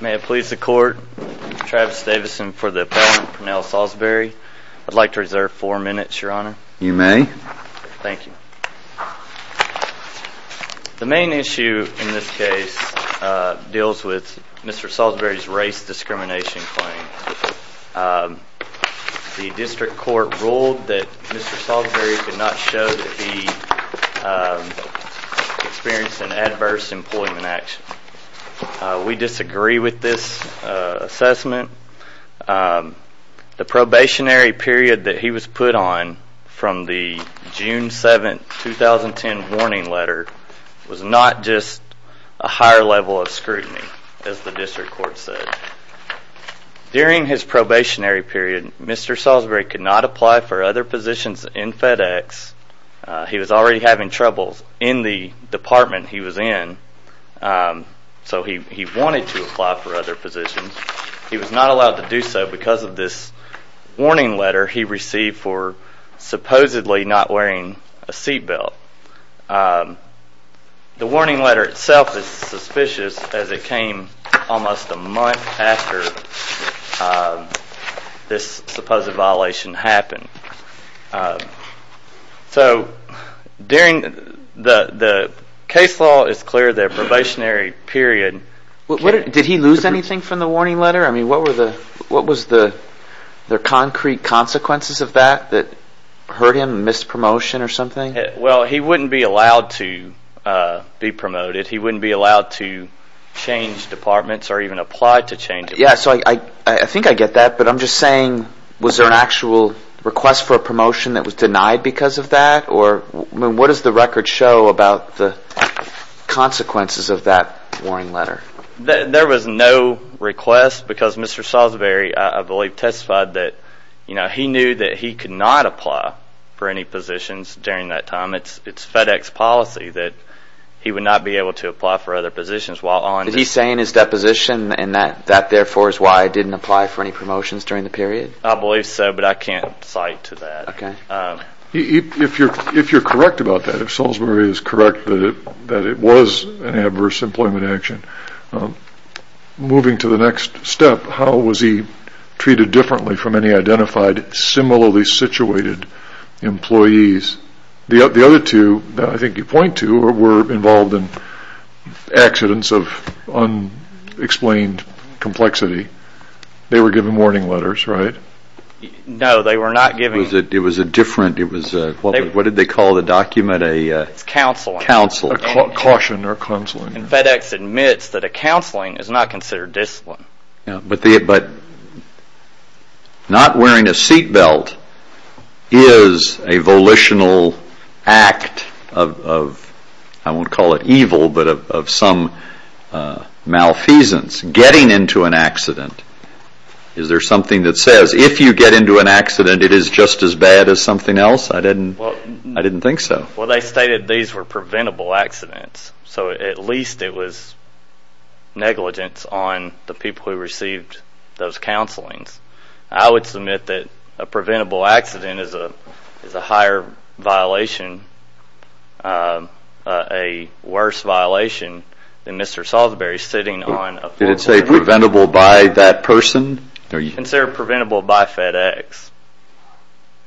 May I please the court, Travis Davison for the appellant Pernell Saulsberry. I'd like The main issue in this case deals with Mr. Saulsberry's race discrimination claim. The district court ruled that Mr. Saulsberry could not show that he experienced an adverse employment action. We disagree with this assessment. The probationary period that he was put on from the June 7, 2010 warning letter was not just a higher level of scrutiny as the district court said. During his probationary period, Mr. Saulsberry could not apply for other positions in FedEx. He was already having trouble in the department he was in, so he wanted to apply for other positions. He was not allowed to do so because of this warning letter he received for supposedly not wearing a seat belt. The warning letter itself is suspicious as it came almost a month after this supposed violation happened. Did he lose anything from the warning letter? What were the concrete consequences of that? He wouldn't be allowed to be promoted. He wouldn't be allowed to change departments or even apply to change departments. I think I get that, but I'm just saying was there an actual request for a promotion that was denied because of that? What does the record show about the consequences of that warning letter? There was no request because Mr. Saulsberry testified that he knew that he could not apply for any positions during that time. It's FedEx policy that he would not be able to apply for other positions. Is he saying in his deposition that that therefore is why he didn't apply for any promotions during the period? I believe so, but I can't cite to that. If you're correct about that, if Saulsberry is correct that it was an adverse employment action, moving to the next step, how was he treated differently from any identified similarly situated employees? The other two that I think you point to were involved in accidents of unexplained complexity. They were given warning letters, right? No, they were not given... It was a different, what did they call the document? Counseling. Caution or counseling. FedEx admits that a counseling is not considered discipline. But not wearing a seatbelt is a volitional act of, I won't call it evil, but of some malfeasance. Getting into an accident, is there something that says if you get into an accident it is just as bad as something else? I didn't think so. Well, they stated these were preventable accidents, so at least it was negligence on the people who received those counselings. I would submit that a preventable accident is a higher violation, a worse violation than Mr. Saulsberry sitting on... Did it say preventable by that person? It said preventable by FedEx.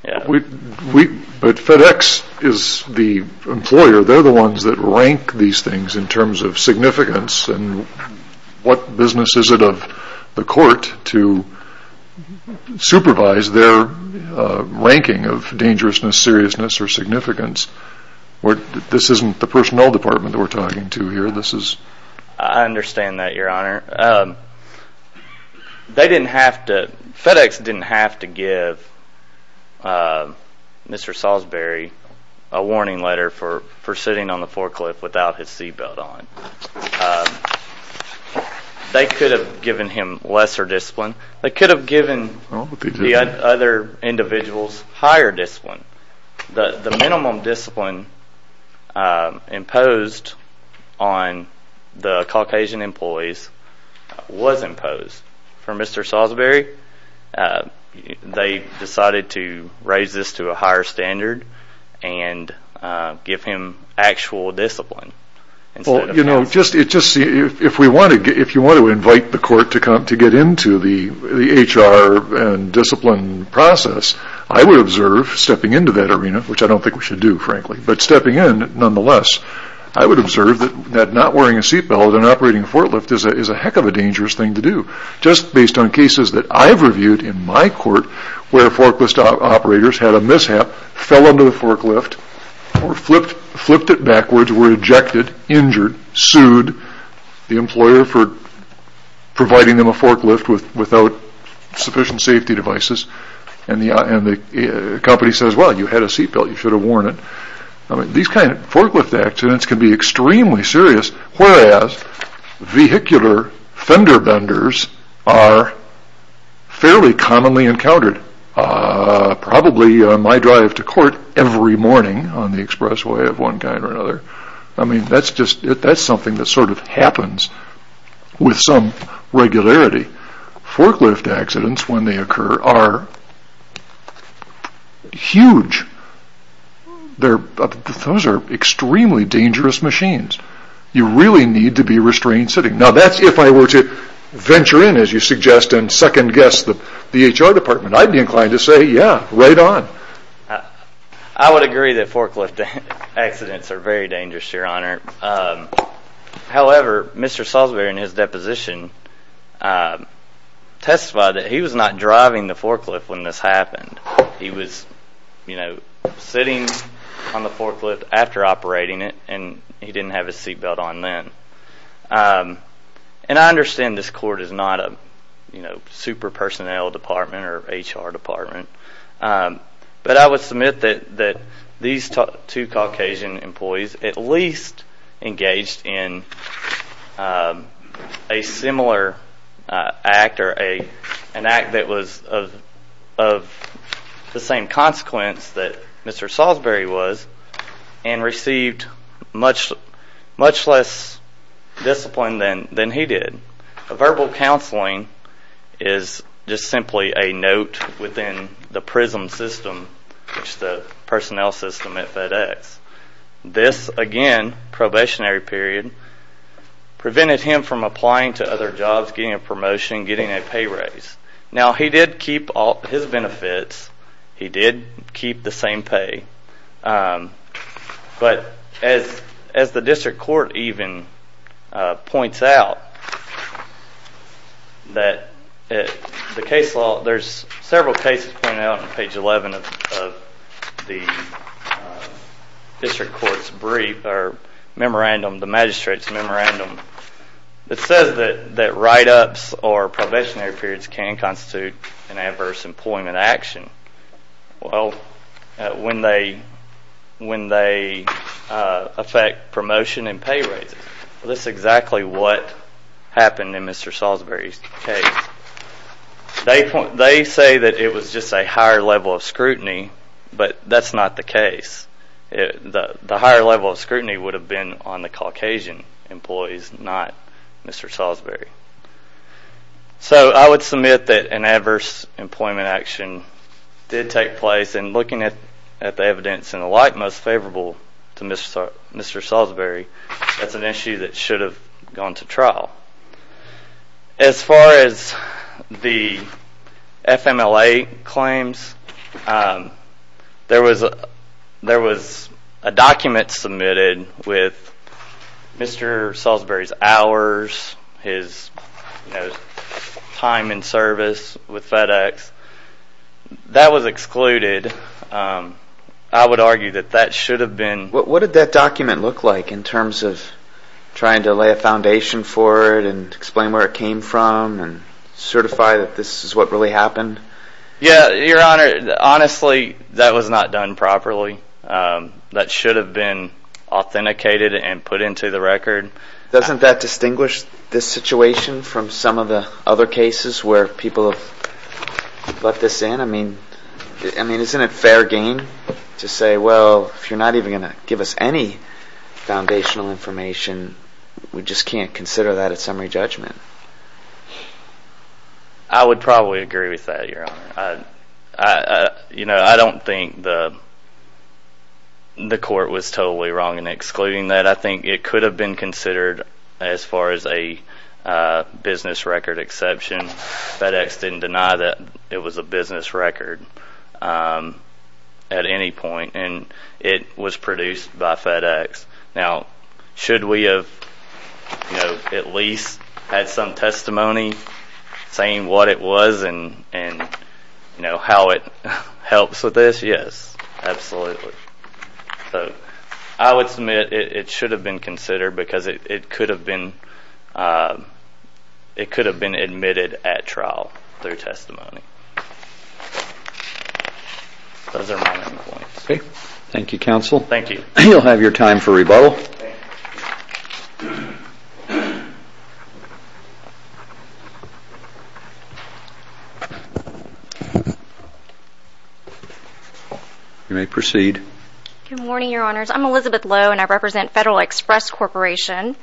But FedEx is the employer, they're the ones that rank these things in terms of significance, and what business is it of the court to supervise their ranking of dangerousness, seriousness, or significance? This isn't the personnel department that we're talking to here, this is... I understand that, Your Honor. They didn't have to, FedEx didn't have to give Mr. Saulsberry a warning letter for sitting on the forklift without his seatbelt on. They could have given him lesser discipline. They could have given the other individuals higher discipline. The minimum discipline imposed on the Caucasian employees was imposed. For Mr. Saulsberry, they decided to raise this to a higher standard and give him actual discipline. If you want to invite the court to get into the HR and discipline process, I would observe stepping into that arena, which I don't think we should do, frankly, but stepping in nonetheless, I would observe that not wearing a seatbelt and operating a forklift is a heck of a dangerous thing to do. Just based on cases that I've reviewed in my court where forklift operators had a mishap, fell under the forklift, or flipped it backwards, were ejected, injured, sued the employer for providing them a forklift without sufficient safety devices, and the company says, well, you had a seatbelt, you should have worn it. These kinds of forklift accidents can be extremely serious, whereas vehicular fender benders are fairly commonly encountered, probably on my drive to court every morning on the expressway of one kind or another. I mean, that's something that sort of happens with some regularity. Forklift accidents, when they occur, are huge. Those are extremely dangerous machines. You really need to be restrained sitting. Now, that's if I were to venture in, as you suggest, and second guess the HR department, I'd be inclined to say, yeah, right on. I would agree that forklift accidents are very dangerous, Your Honor. However, Mr. Salisbury, in his deposition, testified that he was not driving the forklift when this happened. He was sitting on the forklift after operating it, and he didn't have his seatbelt on then. I understand this court is not a super-personnel department or HR department, but I would submit that these two Caucasian employees at least engaged in a similar act or an act that was of the same consequence that Mr. Salisbury was, and received much less discipline than he did. Verbal counseling is just simply a note within the PRISM system, which is the personnel system at FedEx. This, again, probationary period, prevented him from applying to other jobs, getting a promotion, getting a pay raise. Now, he did keep his benefits. He did keep the same pay, but as the district court even points out, there's several cases pointed out on page 11 of the district court's brief or memorandum, the magistrate's memorandum, that says that write-ups or probationary periods can constitute an adverse employment action when they affect promotion and pay raises. This is exactly what happened in Mr. Salisbury's case. They say that it was just a higher level of scrutiny, but that's not the case. The higher level of scrutiny would have been on the Caucasian employees, not Mr. Salisbury. So, I would submit that an adverse employment action did take place, and looking at the evidence and the like, most favorable to Mr. Salisbury, that's an issue that should have gone to trial. As far as the FMLA claims, there was a document submitted with Mr. Salisbury's hours, his time in service with FedEx. That was excluded. I would argue that that should have been... What did that document look like in terms of trying to lay a foundation for it and explain where it came from and certify that this is what really happened? Yeah, Your Honor, honestly, that was not done properly. That should have been authenticated and put into the record. Doesn't that distinguish this situation from some of the other cases where people have let this in? I mean, isn't it fair game to say, well, if you're not even going to give us any foundational information, we just can't consider that a summary judgment? I would probably agree with that, Your Honor. I don't think the court was totally wrong in excluding that. I think it could have been considered as far as a business record exception. FedEx didn't deny that it was a business record at any point, and it was produced by FedEx. Now, should we have at least had some testimony saying what it was and how it helps with this? Yes, absolutely. I would submit it should have been considered because it could have been admitted at trial through testimony. Thank you, counsel. You'll have your time for rebuttal. You may proceed. Good morning, Your Honors. I'm Elizabeth Lowe, and I represent Federal Express Corporation.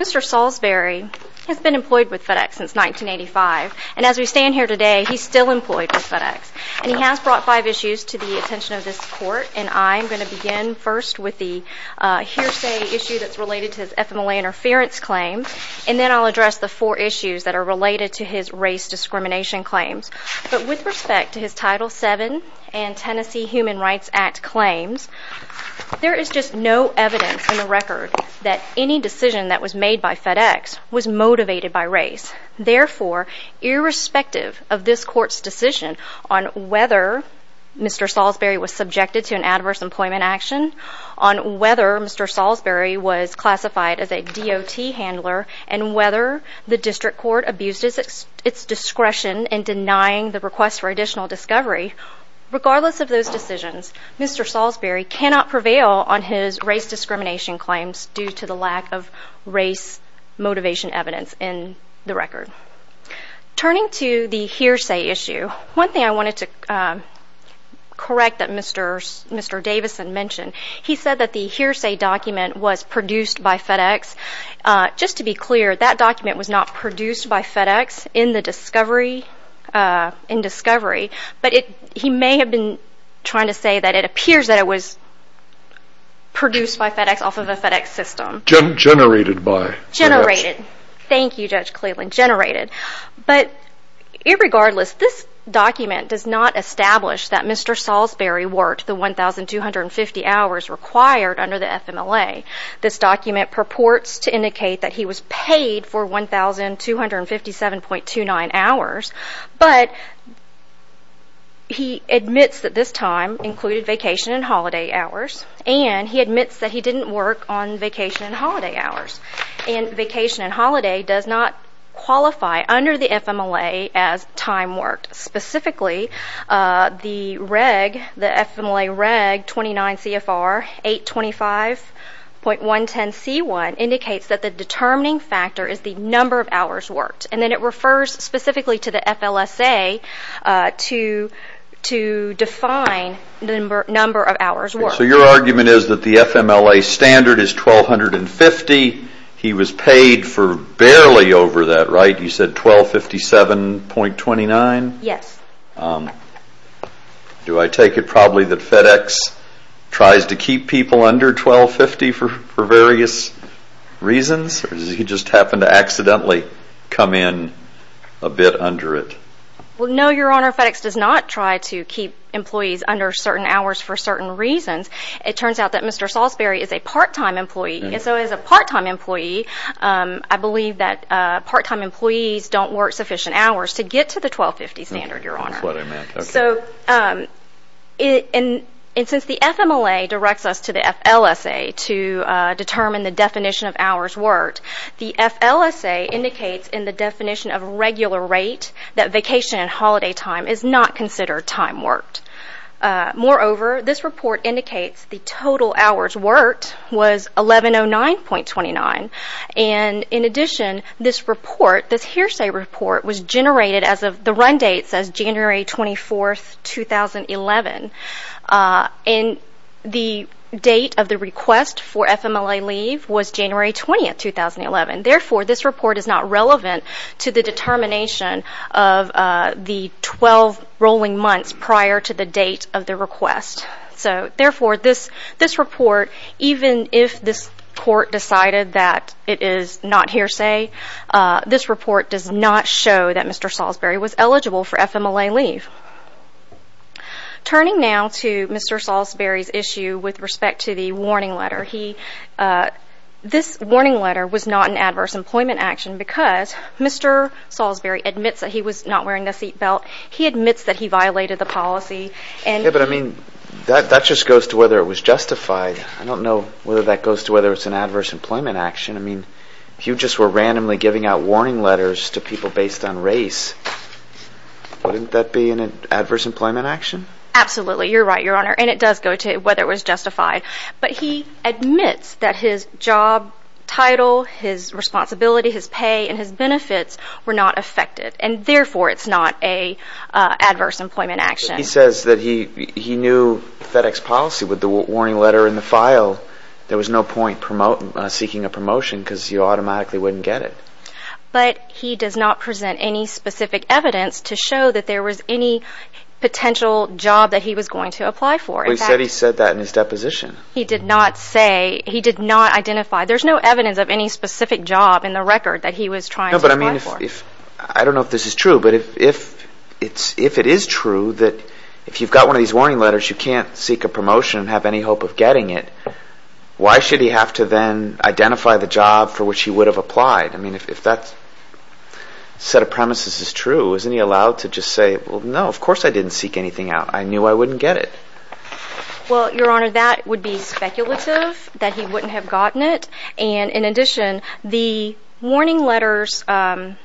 Mr. Salisbury has been employed with FedEx since 1985, and as we stand here today, he's still employed with FedEx. And he has brought five issues to the attention of this court, and I'm going to begin first with the hearsay issue that's related to his FMLA interference claims. And then I'll address the four issues that are related to his race discrimination claims. But with respect to his Title VII and Tennessee Human Rights Act claims, there is just no evidence in the record that any decision that was made by FedEx was motivated by race. Therefore, irrespective of this court's decision on whether Mr. Salisbury was subjected to an adverse employment action, on whether Mr. Salisbury was classified as a DOT handler, and whether the district court abused its discretion in denying the request for additional discovery, regardless of those decisions, Mr. Salisbury cannot prevail on his race discrimination claims due to the lack of race motivation evidence in the record. Turning to the hearsay issue, one thing I wanted to correct that Mr. Davison mentioned, he said that the hearsay document was produced by FedEx. Just to be clear, that document was not produced by FedEx in the discovery, but he may have been trying to say that it appears that it was produced by FedEx off of a FedEx system. Generated by FedEx. Generated. Thank you, Judge Cleveland. Generated. But, irregardless, this document does not establish that Mr. Salisbury worked the 1,250 hours required under the FMLA. This document purports to indicate that he was paid for 1,257.29 hours, but he admits that this time included vacation and holiday hours, and he admits that he didn't work on vacation and holiday hours. And vacation and holiday does not qualify under the FMLA as time worked. Specifically, the reg, the FMLA reg 29 CFR 825.110C1 indicates that the determining factor is the number of hours worked. And then it refers specifically to the FLSA to define the number of hours worked. So your argument is that the FMLA standard is 1,250. He was paid for barely over that, right? You said 1,257.29? Yes. Do I take it probably that FedEx tries to keep people under 1,250 for various reasons, or does he just happen to accidentally come in a bit under it? Well, no, Your Honor. FedEx does not try to keep employees under certain hours for certain reasons. It turns out that Mr. Salisbury is a part-time employee, and so as a part-time employee, I believe that part-time employees don't work sufficient hours to get to the 1,250 standard, Your Honor. That's what I meant. Okay. And since the FMLA directs us to the FLSA to determine the definition of hours worked, the FLSA indicates in the definition of regular rate that vacation and holiday time is not considered time worked. Moreover, this report indicates the total hours worked was 1,109.29, and in addition, this report, this hearsay report, was generated as of the run date says January 24, 2011. And the date of the request for FMLA leave was January 20, 2011. Therefore, this report is not relevant to the determination of the 12 rolling months prior to the date of the request. So therefore, this report, even if this Court decided that it is not hearsay, this report does not show that Mr. Salisbury was eligible for FMLA leave. Turning now to Mr. Salisbury's issue with respect to the warning letter, this warning letter was not an adverse employment action because Mr. Salisbury admits that he was not wearing a seat belt. He admits that he violated the policy. Yeah, but I mean, that just goes to whether it was justified. I don't know whether that goes to whether it's an adverse employment action. I mean, if you just were randomly giving out warning letters to people based on race, wouldn't that be an adverse employment action? Absolutely. You're right, Your Honor, and it does go to whether it was justified. But he admits that his job title, his responsibility, his pay, and his benefits were not affected, and therefore, it's not an adverse employment action. He says that he knew FedEx policy with the warning letter in the file. There was no point seeking a promotion because you automatically wouldn't get it. But he does not present any specific evidence to show that there was any potential job that he was going to apply for. But he said he said that in his deposition. He did not say. He did not identify. There's no evidence of any specific job in the record that he was trying to apply for. I don't know if this is true, but if it is true that if you've got one of these warning letters, you can't seek a promotion and have any hope of getting it. Why should he have to then identify the job for which he would have applied? I mean, if that set of premises is true, isn't he allowed to just say, well, no, of course I didn't seek anything out. I knew I wouldn't get it. Well, Your Honor, that would be speculative that he wouldn't have gotten it. And in addition, the warning letters, the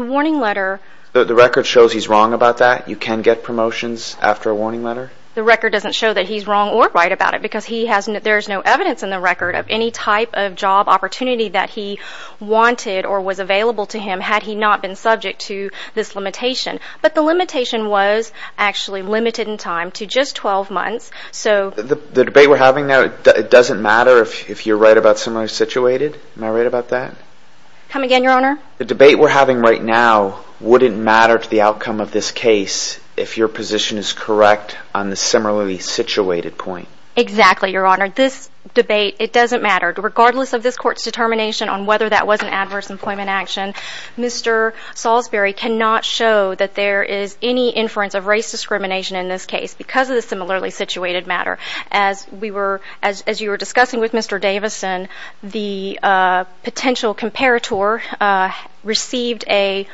warning letter. The record shows he's wrong about that. You can get promotions after a warning letter. The record doesn't show that he's wrong or right about it because he hasn't. There is no evidence in the record of any type of job opportunity that he wanted or was available to him had he not been subject to this limitation. But the limitation was actually limited in time to just 12 months. The debate we're having now, it doesn't matter if you're right about similarly situated. Am I right about that? Come again, Your Honor? The debate we're having right now wouldn't matter to the outcome of this case if your position is correct on the similarly situated point. Exactly, Your Honor. This debate, it doesn't matter. Regardless of this court's determination on whether that was an adverse employment action, Mr. Salisbury cannot show that there is any inference of race discrimination in this case because of the similarly situated matter. As you were discussing with Mr. Davison, the potential comparator received a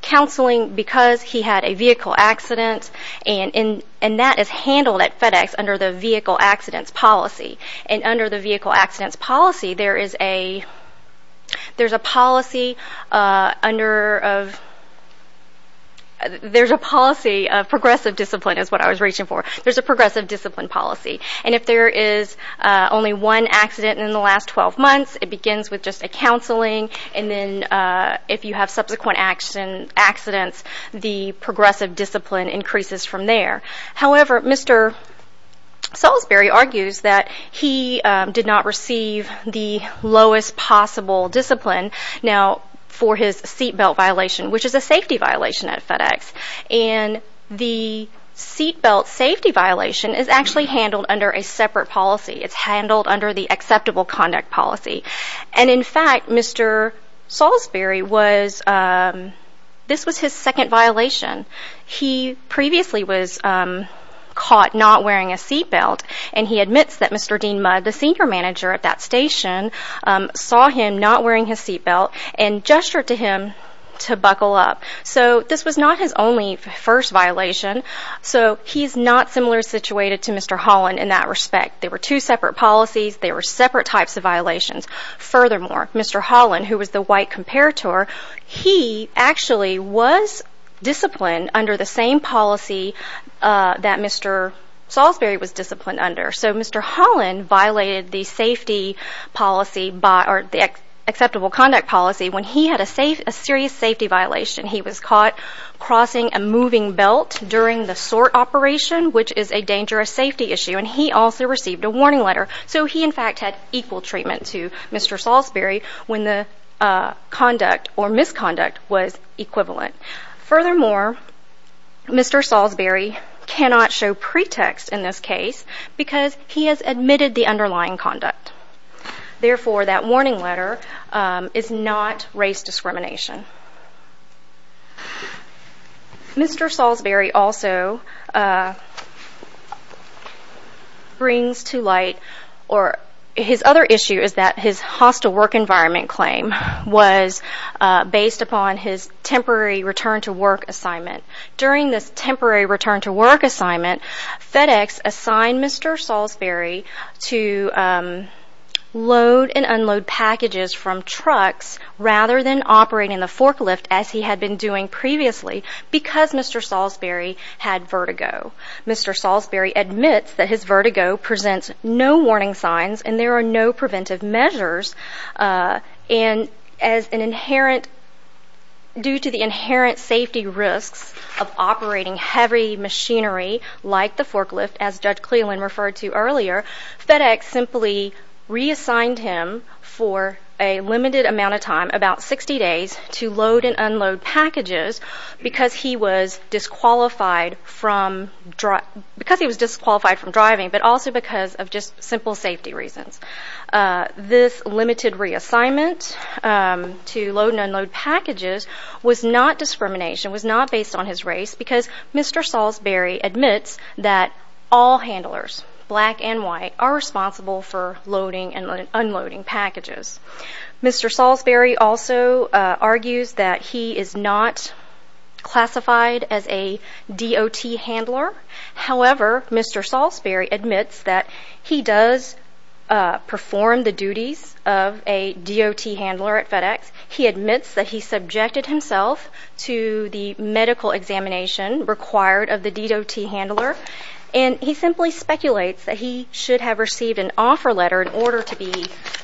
counseling because he had a vehicle accident. And that is handled at FedEx under the vehicle accidents policy. And under the vehicle accidents policy, there's a policy of progressive discipline is what I was reaching for. There's a progressive discipline policy. And if there is only one accident in the last 12 months, it begins with just a counseling. And then if you have subsequent accidents, the progressive discipline increases from there. However, Mr. Salisbury argues that he did not receive the lowest possible discipline now for his seat belt violation, which is a safety violation at FedEx. And the seat belt safety violation is actually handled under a separate policy. It's handled under the acceptable conduct policy. And in fact, Mr. Salisbury was, this was his second violation. He previously was caught not wearing a seat belt. And he admits that Mr. Dean Mudd, the senior manager at that station, saw him not wearing his seat belt and gestured to him to buckle up. So this was not his only first violation. So he's not similar situated to Mr. Holland in that respect. They were two separate policies. They were separate types of violations. Furthermore, Mr. Holland, who was the white comparator, he actually was disciplined under the same policy that Mr. Salisbury was disciplined under. So Mr. Holland violated the safety policy or the acceptable conduct policy when he had a serious safety violation. He was caught crossing a moving belt during the sort operation, which is a dangerous safety issue. And he also received a warning letter. So he, in fact, had equal treatment to Mr. Salisbury when the conduct or misconduct was equivalent. Furthermore, Mr. Salisbury cannot show pretext in this case because he has admitted the underlying conduct. Therefore, that warning letter is not race discrimination. Mr. Salisbury also brings to light or his other issue is that his hostile work environment claim was based upon his temporary return to work assignment. During this temporary return to work assignment, FedEx assigned Mr. Salisbury to load and unload packages from trucks rather than operating the forklift as he had been doing previously because Mr. Salisbury had vertigo. Mr. Salisbury admits that his vertigo presents no warning signs and there are no preventive measures. And as an inherent, due to the inherent safety risks of operating heavy machinery like the forklift, as Judge Cleland referred to earlier, FedEx simply reassigned him for a limited amount of time, about 60 days, to load and unload packages because he was disqualified from driving but also because of just simple safety reasons. This limited reassignment to load and unload packages was not discrimination, was not based on his race because Mr. Salisbury admits that all handlers, black and white, are responsible for loading and unloading packages. Mr. Salisbury also argues that he is not classified as a DOT handler. However, Mr. Salisbury admits that he does perform the duties of a DOT handler at FedEx. He admits that he subjected himself to the medical examination required of the DOT handler and he simply speculates that he should have received an offer letter in order to be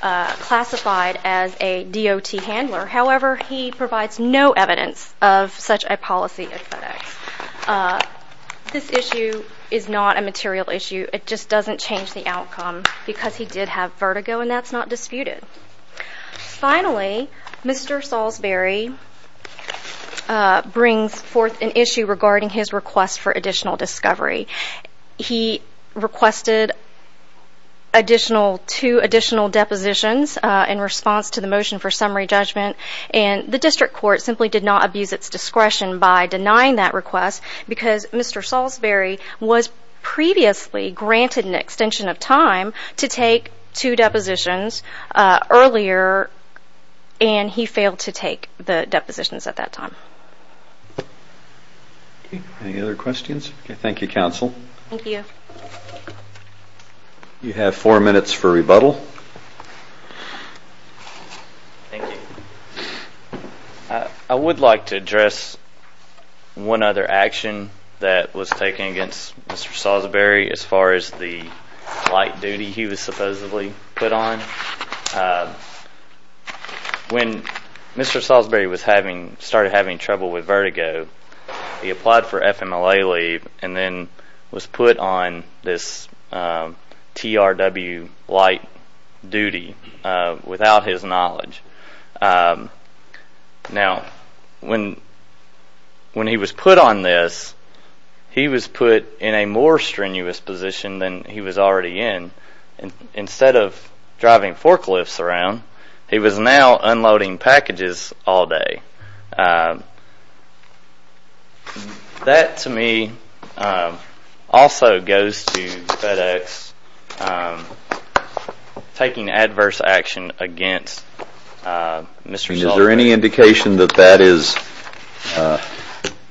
classified as a DOT handler. However, he provides no evidence of such a policy at FedEx. This issue is not a material issue. It just doesn't change the outcome because he did have vertigo and that's not disputed. Finally, Mr. Salisbury brings forth an issue regarding his request for additional discovery. He requested two additional depositions in response to the motion for summary judgment. The district court simply did not abuse its discretion by denying that request because Mr. Salisbury was previously granted an extension of time to take two depositions earlier and he failed to take the depositions at that time. Any other questions? Thank you, counsel. Thank you. You have four minutes for rebuttal. Thank you. I would like to address one other action that was taken against Mr. Salisbury as far as the light duty he was supposedly put on. When Mr. Salisbury started having trouble with vertigo, he applied for FMLA leave and then was put on this TRW light duty without his knowledge. Now, when he was put on this, he was put in a more strenuous position than he was already in. Instead of driving forklifts around, he was now unloading packages all day. That, to me, also goes to FedEx taking adverse action against Mr. Salisbury. Is there any indication that that is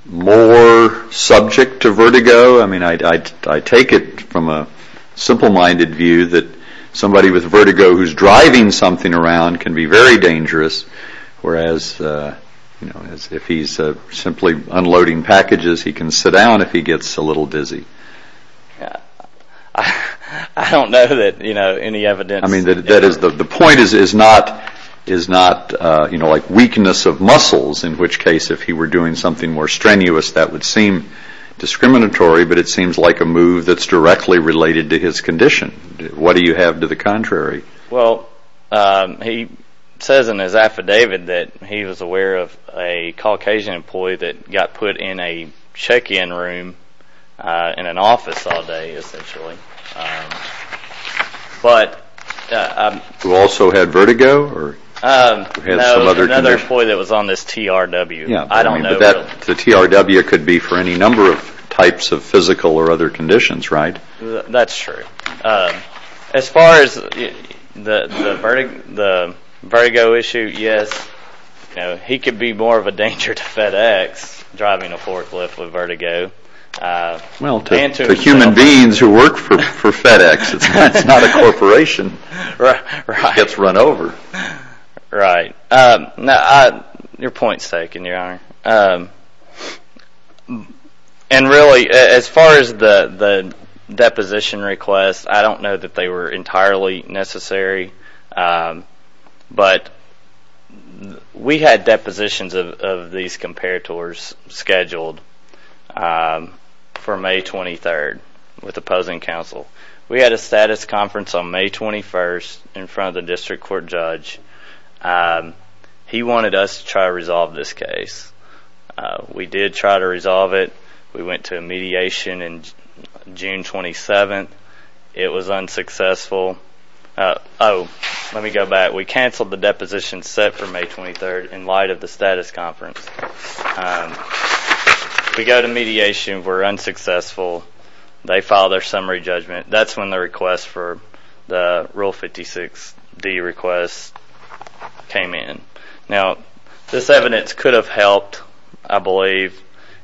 more subject to vertigo? I mean, I take it from a simple-minded view that somebody with vertigo who's driving something around can be very dangerous, whereas if he's simply unloading packages, he can sit down if he gets a little dizzy. I don't know that any evidence… The point is not weakness of muscles, in which case if he were doing something more strenuous, that would seem discriminatory, but it seems like a move that's directly related to his condition. What do you have to the contrary? Well, he says in his affidavit that he was aware of a Caucasian employee that got put in a check-in room in an office all day, essentially. Who also had vertigo? Another employee that was on this TRW. I don't know. The TRW could be for any number of types of physical or other conditions, right? That's true. As far as the vertigo issue, yes, he could be more of a danger to FedEx driving a forklift with vertigo. Well, to human beings who work for FedEx, it's not a corporation that gets run over. Right. Your point is taken, Your Honor. And really, as far as the deposition request, I don't know that they were entirely necessary, but we had depositions of these comparators scheduled for May 23rd with opposing counsel. We had a status conference on May 21st in front of the district court judge. He wanted us to try to resolve this case. We did try to resolve it. We went to a mediation on June 27th. It was unsuccessful. Oh, let me go back. We canceled the deposition set for May 23rd in light of the status conference. We go to mediation. We're unsuccessful. They file their summary judgment. That's when the request for the Rule 56D request came in. Now, this evidence could have helped, I believe,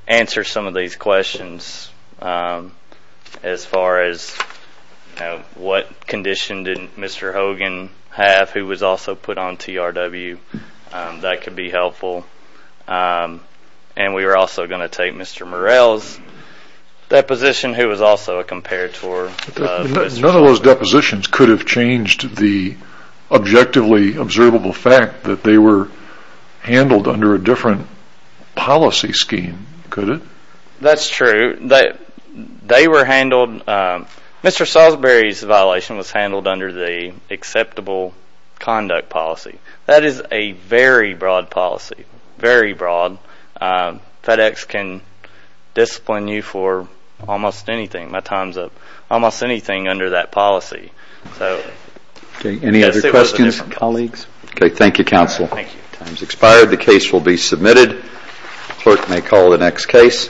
answer some of these questions as far as what condition did Mr. Hogan have who was also put on TRW. That could be helpful. And we were also going to take Mr. Morell's deposition who was also a comparator. None of those depositions could have changed the objectively observable fact that they were handled under a different policy scheme, could it? That's true. They were handled. Mr. Salisbury's violation was handled under the acceptable conduct policy. That is a very broad policy. Very broad. FedEx can discipline you for almost anything. My time's up. Almost anything under that policy. Any other questions, colleagues? Thank you, counsel. Time's expired. The case will be submitted. Clerk may call the next case.